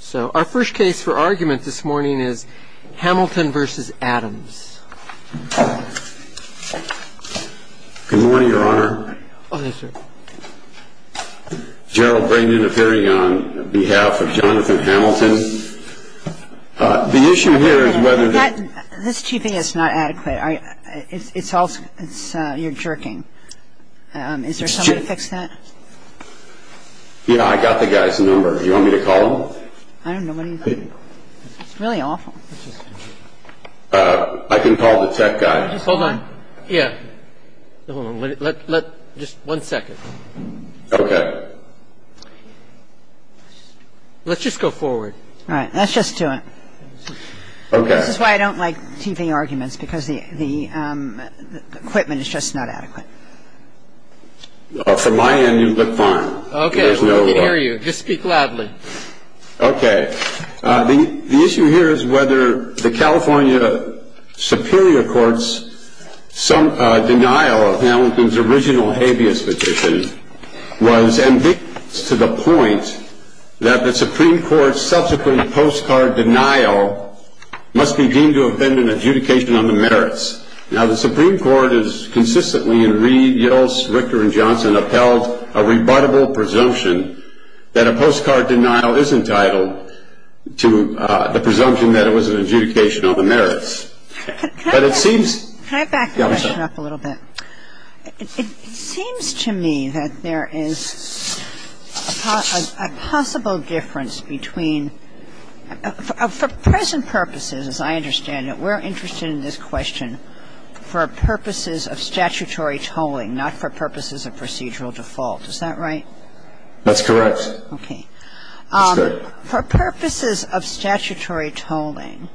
So, our first case for argument this morning is Hamilton v. Adams. Good morning, your honor. Oh, yes, sir. Derral Brain interfering on behalf of Jonathan Hamilton. The issue here is whether... This TV is not adequate. It's all... you're jerking. Is there someone to fix that? Yeah, I got the guy's number. Do you want me to call him? I don't know. What do you think? It's really awful. I can call the tech guy. Hold on. Yeah. Hold on. Let... just one second. Okay. Let's just go forward. All right. Let's just do it. Okay. This is why I don't like TV arguments, because the equipment is just not adequate. From my end, you look fine. Okay. We can hear you. Just speak loudly. Okay. The issue here is whether the California Superior Court's denial of Hamilton's original habeas petition was ambiguous to the point that the Supreme Court's subsequent postcard denial must be deemed to have been an adjudication on the merits. Now, the Supreme Court has consistently in Reed, Yost, Richter, and Johnson upheld a rebuttable presumption that a postcard denial is entitled to the presumption that it was an adjudication on the merits. But it seems... Can I back the question up a little bit? Yeah, I'm sorry. It seems to me that there is a possible difference between... For present purposes, as I understand it, we're interested in this question for purposes of statutory tolling, not for purposes of procedural default. Is that right? That's correct. Okay. That's good. For purposes of statutory tolling,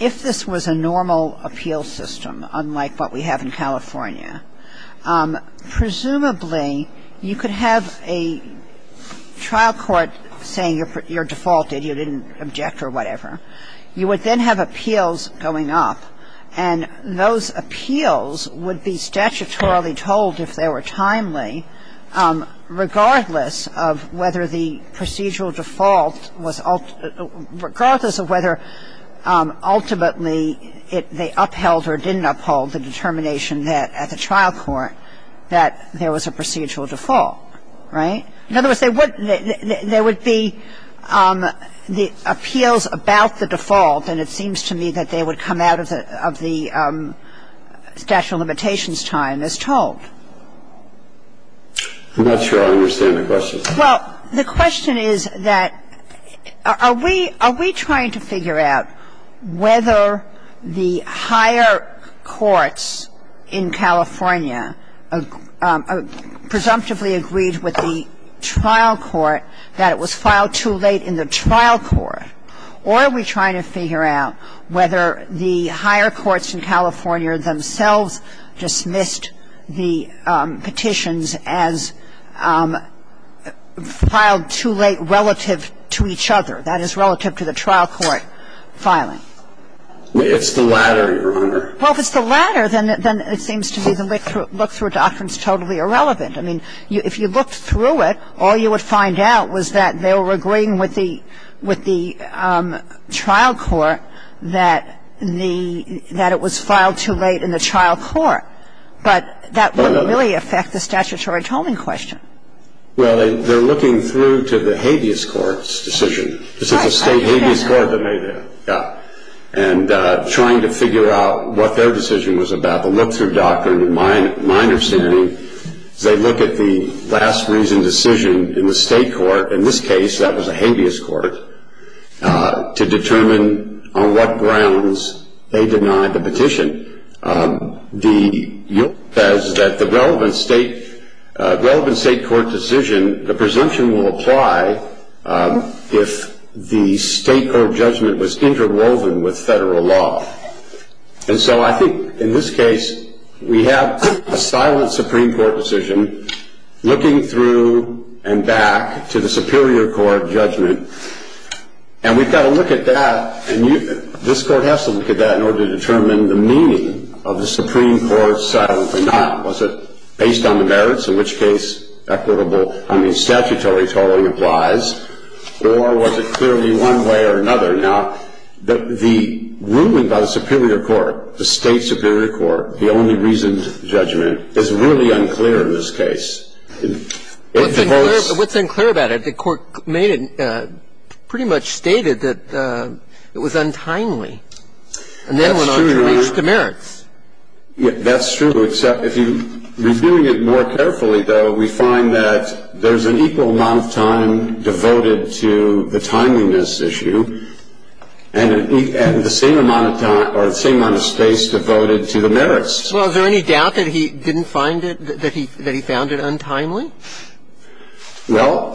if this was a normal appeal system, unlike what we have in California, presumably you could have a trial court saying you're defaulted, you didn't object or whatever. You would then have appeals going up, and those appeals would be statutorily tolled if they were timely, regardless of whether the procedural default was... Regardless of whether ultimately they upheld or didn't uphold the determination that at the trial court that there was a procedural default, right? In other words, there would be the appeals about the default, and it seems to me that they would come out of the statute of limitations time as tolled. I'm not sure I understand the question. Well, the question is that are we trying to figure out whether the higher courts in California presumptively agreed with the trial court that it was filed too late in the trial court, or are we trying to figure out whether the higher courts in California themselves dismissed the petitions as filed too late relative to each other, that is, relative to the trial court filing? It's the latter, Your Honor. Well, if it's the latter, then it seems to me the look-through doctrine is totally irrelevant. I mean, if you looked through it, all you would find out was that they were agreeing with the trial court that it was filed too late in the trial court, but that wouldn't really affect the statutory tolling question. Well, they're looking through to the habeas court's decision. This is the state habeas court that made that, yeah, and trying to figure out what their decision was about. The look-through doctrine, in my understanding, is they look at the last reason decision in the state court, in this case that was a habeas court, the look-through doctrine says that the relevant state court decision, the presumption will apply if the state court judgment was interwoven with federal law. And so I think in this case we have a silent Supreme Court decision looking through and back to the superior court judgment, and we've got to look at that, and this Court has to look at that in order to determine the meaning of the Supreme Court's silent denial. Was it based on the merits, in which case equitable, I mean, statutory tolling applies, or was it clearly one way or another? Now, the ruling by the superior court, the state superior court, the only reasoned judgment is really unclear in this case. What's unclear about it? I think the court made it, pretty much stated that it was untimely, and then went on to reach the merits. That's true, except if you're doing it more carefully, though, we find that there's an equal amount of time devoted to the timeliness issue, and the same amount of time or the same amount of space devoted to the merits. Well, is there any doubt that he didn't find it, that he found it untimely? Well,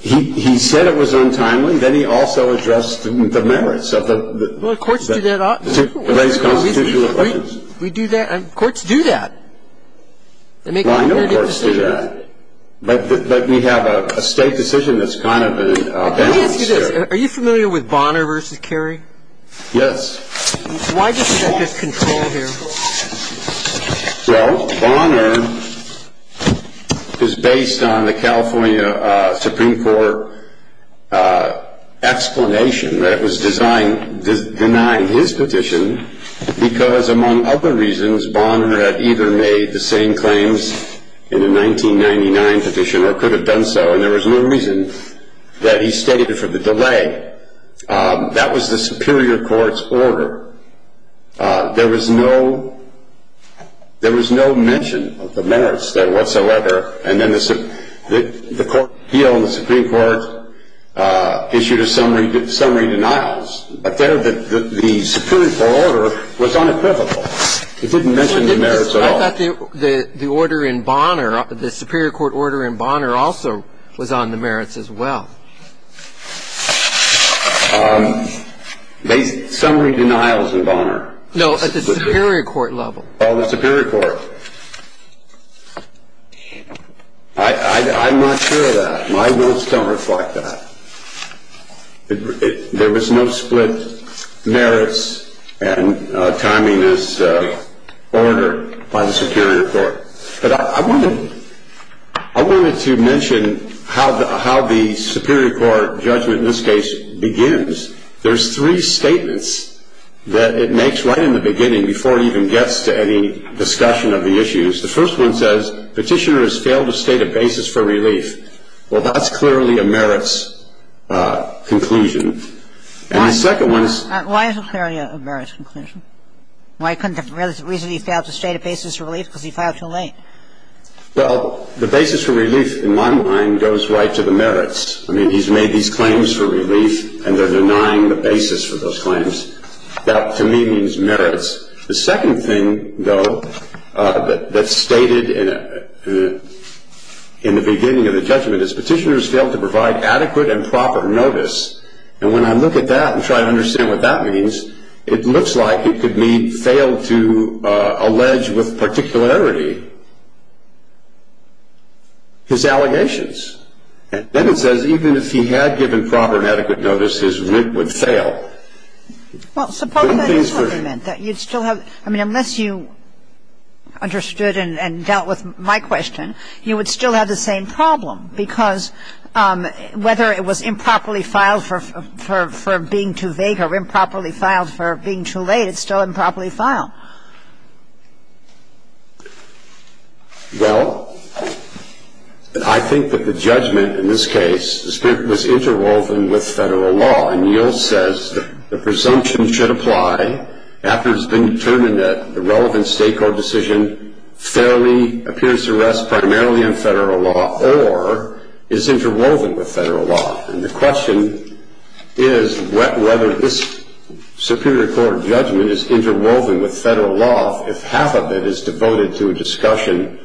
he said it was untimely. Then he also addressed the merits of the race constitutional equations. We do that? Courts do that. Well, I know courts do that, but we have a state decision that's kind of a balance here. Let me ask you this. Are you familiar with Bonner v. Kerry? Yes. Why doesn't that get control here? Well, Bonner is based on the California Supreme Court explanation that was denying his petition because, among other reasons, Bonner had either made the same claims in the 1999 petition or could have done so, and there was no reason that he stated it for the delay. That was the superior court's order. There was no mention of the merits there whatsoever, and then the court appealed and the Supreme Court issued a summary denial. But there the superior court order was unequivocal. It didn't mention the merits at all. I thought the order in Bonner, the superior court order in Bonner also was on the merits as well. Summary denials in Bonner. No, at the superior court level. Oh, the superior court. I'm not sure of that. My notes don't reflect that. There was no split merits and timing as ordered by the superior court. But I wanted to mention how the superior court judgment in this case begins. There's three statements that it makes right in the beginning before it even gets to any discussion of the issues. The first one says, Petitioner has failed to state a basis for relief. Well, that's clearly a merits conclusion. And the second one is. Why is it clearly a merits conclusion? Why couldn't the reason he failed to state a basis for relief because he filed too late? Well, the basis for relief in my mind goes right to the merits. I mean, he's made these claims for relief and they're denying the basis for those claims. That to me means merits. The second thing, though, that's stated in the beginning of the judgment is Petitioner has failed to provide adequate and proper notice. And when I look at that and try to understand what that means, it looks like it could mean failed to allege with particularity his allegations. And then it says even if he had given proper and adequate notice, his writ would fail. Well, suppose that is what he meant, that you'd still have — I mean, unless you understood and dealt with my question, you would still have the same problem because whether it was improperly filed for being too vague or improperly filed for being too late, it's still improperly filed. Well, I think that the judgment in this case was interwoven with Federal law. And Yields says the presumption should apply after it's been determined that the relevant State court decision fairly appears to rest primarily on Federal law or is interwoven with Federal law. And the question is whether this Superior Court judgment is interwoven with Federal law if half of it is devoted to a discussion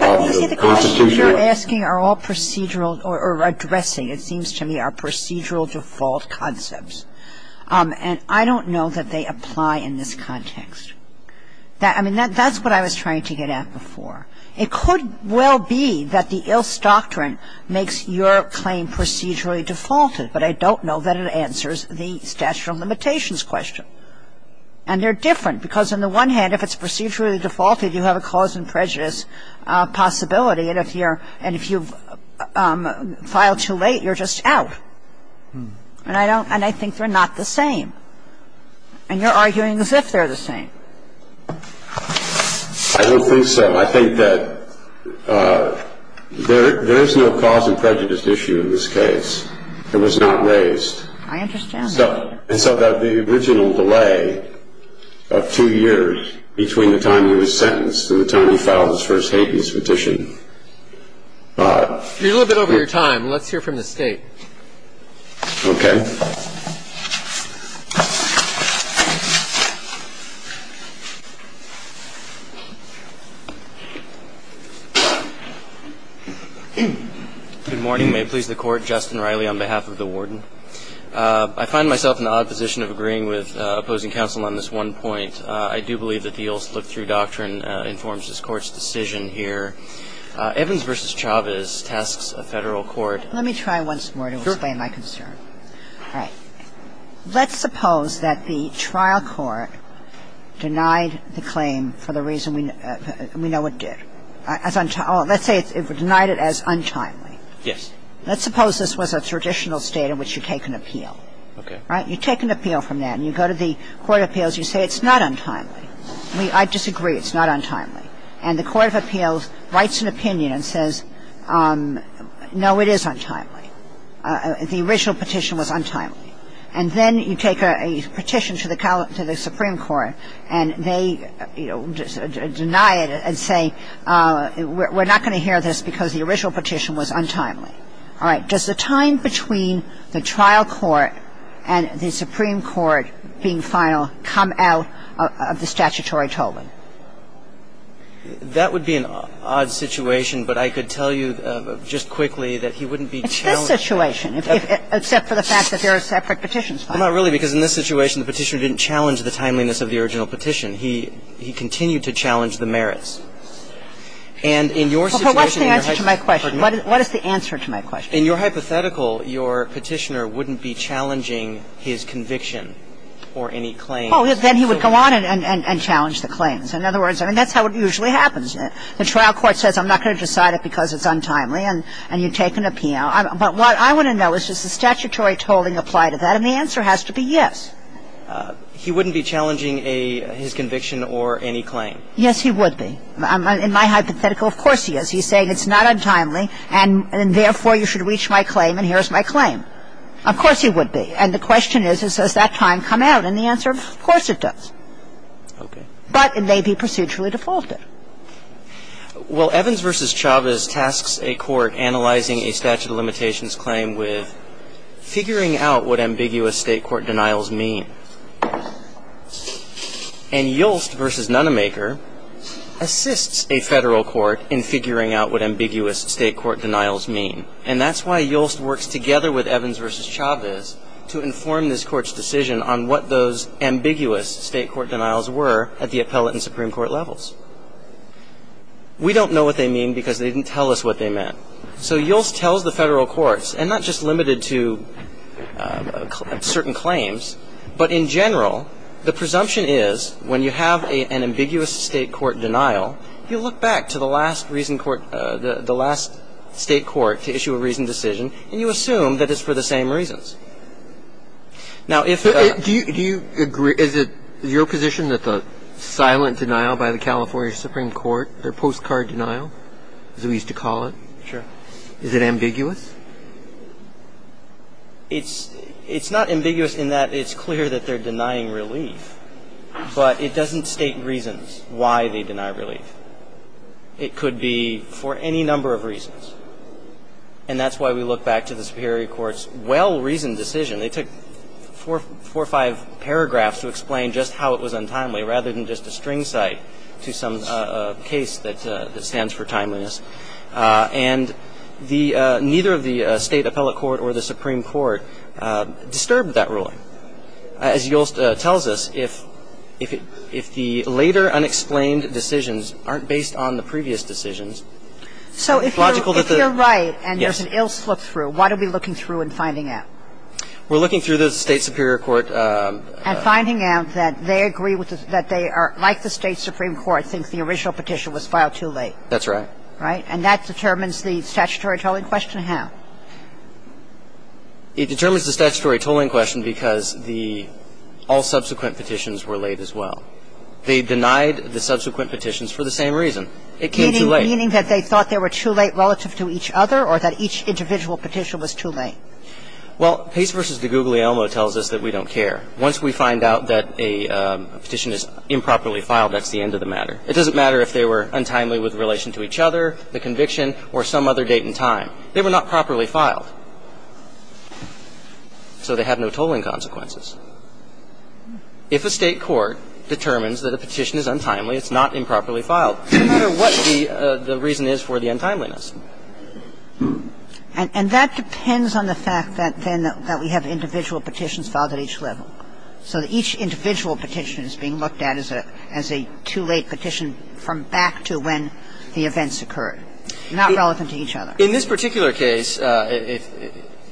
of the Constitution. But, you see, the questions you're asking are all procedural or addressing, it seems to me, are procedural default concepts. And I don't know that they apply in this context. I mean, that's what I was trying to get at before. It could well be that the Yields Doctrine makes your claim procedurally defaulted, but I don't know that it answers the statute of limitations question. And they're different because on the one hand, if it's procedurally defaulted, you have a cause and prejudice possibility, and if you file too late, you're just out. And I think they're not the same. And you're arguing as if they're the same. I don't think so. I think that there is no cause and prejudice issue in this case. It was not raised. I understand that. And so the original delay of two years between the time he was sentenced and the time he filed his First Hadens petition. You're a little bit over your time. Let's hear from the State. Okay. Thank you. Good morning. May it please the Court. Justin Riley on behalf of the Warden. I find myself in the odd position of agreeing with opposing counsel on this one point. I do believe that the Yields Look-Through Doctrine informs this Court's decision here. Evans v. Chavez tasks a Federal court. Let me try once more to explain my concern. Sure. All right. Let's suppose that the trial court denied the claim for the reason we know it did. Let's say it denied it as untimely. Yes. Let's suppose this was a traditional state in which you take an appeal. Okay. Right? You take an appeal from that and you go to the court of appeals. You say it's not untimely. I disagree. It's not untimely. All right. Let's suppose it's not untimely and the court of appeals writes an opinion and says, no, it is untimely. The original petition was untimely. And then you take a petition to the Supreme Court and they, you know, deny it and say, we're not going to hear this because the original petition was untimely. All right. Does the time between the trial court and the Supreme Court being final come out of the statutory tolling? That would be an odd situation, but I could tell you just quickly that he wouldn't be challenged. It's this situation, except for the fact that there are separate petitions. Well, not really, because in this situation, the petitioner didn't challenge the timeliness of the original petition. And in your situation in your hypothesis of the original petition. Well, what's the answer to my question? What is the answer to my question? In your hypothetical, your petitioner wouldn't be challenging his conviction or any claims. Oh, then he would go on and challenge the claims. In other words, I mean, that's how it usually happens. The trial court says I'm not going to decide it because it's untimely and you take an opinion. But what I want to know is, does the statutory tolling apply to that? And the answer has to be yes. He wouldn't be challenging his conviction or any claim. Yes, he would be. In my hypothetical, of course he is. He's saying it's not untimely and therefore you should reach my claim and here's my claim. Of course he would be. And the question is, does that time come out? And the answer, of course it does. Okay. But it may be procedurally defaulted. Well, Evans v. Chavez tasks a court analyzing a statute of limitations claim with figuring out what ambiguous State court denials mean. And Yolst v. Nunemaker assists a federal court in figuring out what ambiguous State court denials mean. And that's why Yolst works together with Evans v. Chavez to inform this court's decision on what those ambiguous State court denials were at the appellate and Supreme Court levels. We don't know what they mean because they didn't tell us what they meant. So Yolst tells the federal courts, and not just limited to certain claims, but in general the presumption is when you have an ambiguous State court denial, you look back to the last State court to issue a reasoned decision and you assume that it's for the same reasons. Do you agree, is it your position that the silent denial by the California Supreme Court, their postcard denial, as we used to call it, is it ambiguous? It's not ambiguous in that it's clear that they're denying relief. But it doesn't state reasons why they deny relief. It could be for any number of reasons. And that's why we look back to the Supreme Court's well-reasoned decision. They took four or five paragraphs to explain just how it was untimely, rather than just a string cite to some case that stands for timeliness. And the ñ neither of the State appellate court or the Supreme Court disturbed that ruling. As Yolst tells us, if the later unexplained decisions aren't based on the previous decisions, it's logical that theó So if you're rightó Yes. óand there's an ill slip through, what are we looking through and finding out? We're looking through the State superior courtó And finding out that they agree with the ñ that they are, like the State supreme court, think the original petition was filed too late. That's right. Right? And that determines the statutory tolling question how? It determines the statutory tolling question because the ñ all subsequent petitions were laid as well. They denied the subsequent petitions for the same reason. It came too late. Meaning that they thought they were too late relative to each other or that each individual petition was too late? Well, Pace v. DeGuglielmo tells us that we don't care. Once we find out that a petition is improperly filed, that's the end of the matter. It doesn't matter if they were untimely with relation to each other, the conviction, or some other date and time. They were not properly filed. So they have no tolling consequences. If a State court determines that a petition is untimely, it's not improperly filed, no matter what the reason is for the untimeliness. And that depends on the fact that then that we have individual petitions filed at each level, so that each individual petition is being looked at as a ñ as a too late petition from back to when the events occurred, not relevant to each other. In this particular case,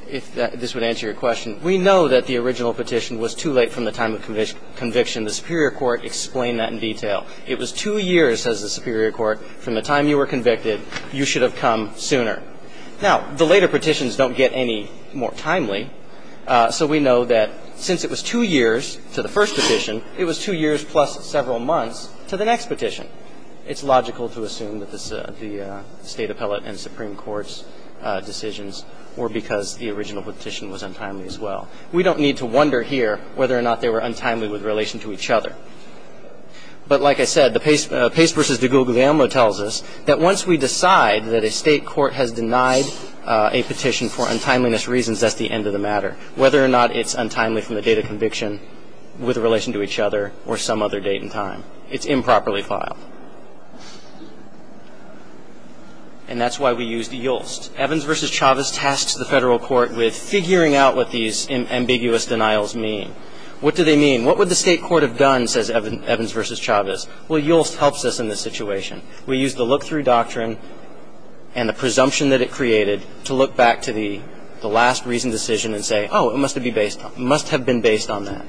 if this would answer your question, we know that the original petition was too late from the time of conviction. The superior court explained that in detail. It was two years, says the superior court, from the time you were convicted, you should have come sooner. Now, the later petitions don't get any more timely. So we know that since it was two years to the first petition, it was two years plus several months to the next petition. It's logical to assume that the State appellate and Supreme Court's decisions were because the original petition was untimely as well. We don't need to wonder here whether or not they were untimely with relation to each other. But like I said, the Pace v. de Guglielmo tells us that once we decide that a State court has denied a petition for untimeliness reasons, that's the end of the matter, whether or not it's untimely from the date of conviction with relation to each other or some other date and time. It's improperly filed. And that's why we used Yulst. Evans v. Chavez tasks the Federal Court with figuring out what these ambiguous denials mean. What do they mean? What would the State court have done, says Evans v. Chavez? Well, Yulst helps us in this situation. We use the look-through doctrine and the presumption that it created to look back to the last reasoned decision and say, oh, it must have been based on that.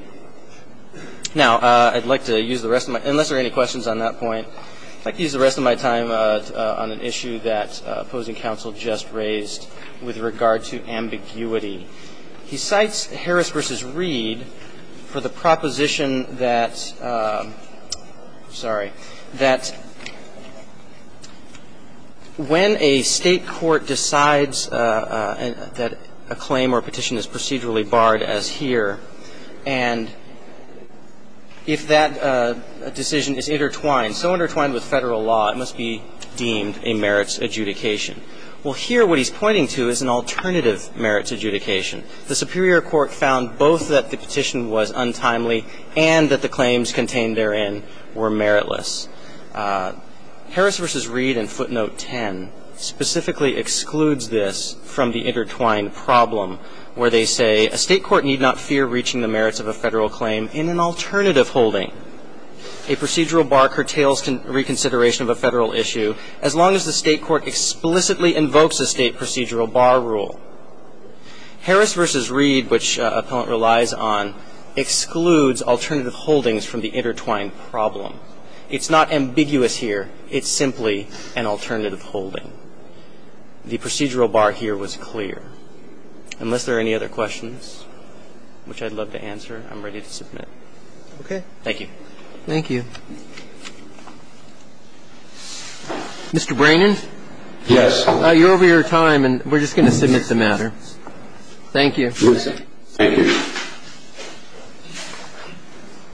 Now, I'd like to use the rest of my time, unless there are any questions on that point, I'd like to use the rest of my time on an issue that opposing counsel just raised with regard to ambiguity. He cites Harris v. Reed for the proposition that, sorry, that when a State court decides that a claim or a petition is procedurally barred, as here, and if that decision is intertwined, so intertwined with Federal law, it must be deemed a merits adjudication. Well, here, what he's pointing to is an alternative merits adjudication. The Superior Court found both that the petition was untimely and that the claims contained therein were meritless. Harris v. Reed in footnote 10 specifically excludes this from the intertwined problem where they say, a State court need not fear reaching the merits of a Federal claim in an alternative holding. A procedural bar curtails reconsideration of a Federal issue as long as the State court explicitly invokes a State procedural bar rule. Harris v. Reed, which appellant relies on, excludes alternative holdings from the intertwined problem. It's not ambiguous here. It's simply an alternative holding. The procedural bar here was clear. Unless there are any other questions, which I'd love to answer, I'm ready to submit. Thank you. Thank you. Mr. Brannon? Yes. You're over your time, and we're just going to submit the matter. Thank you. Thank you.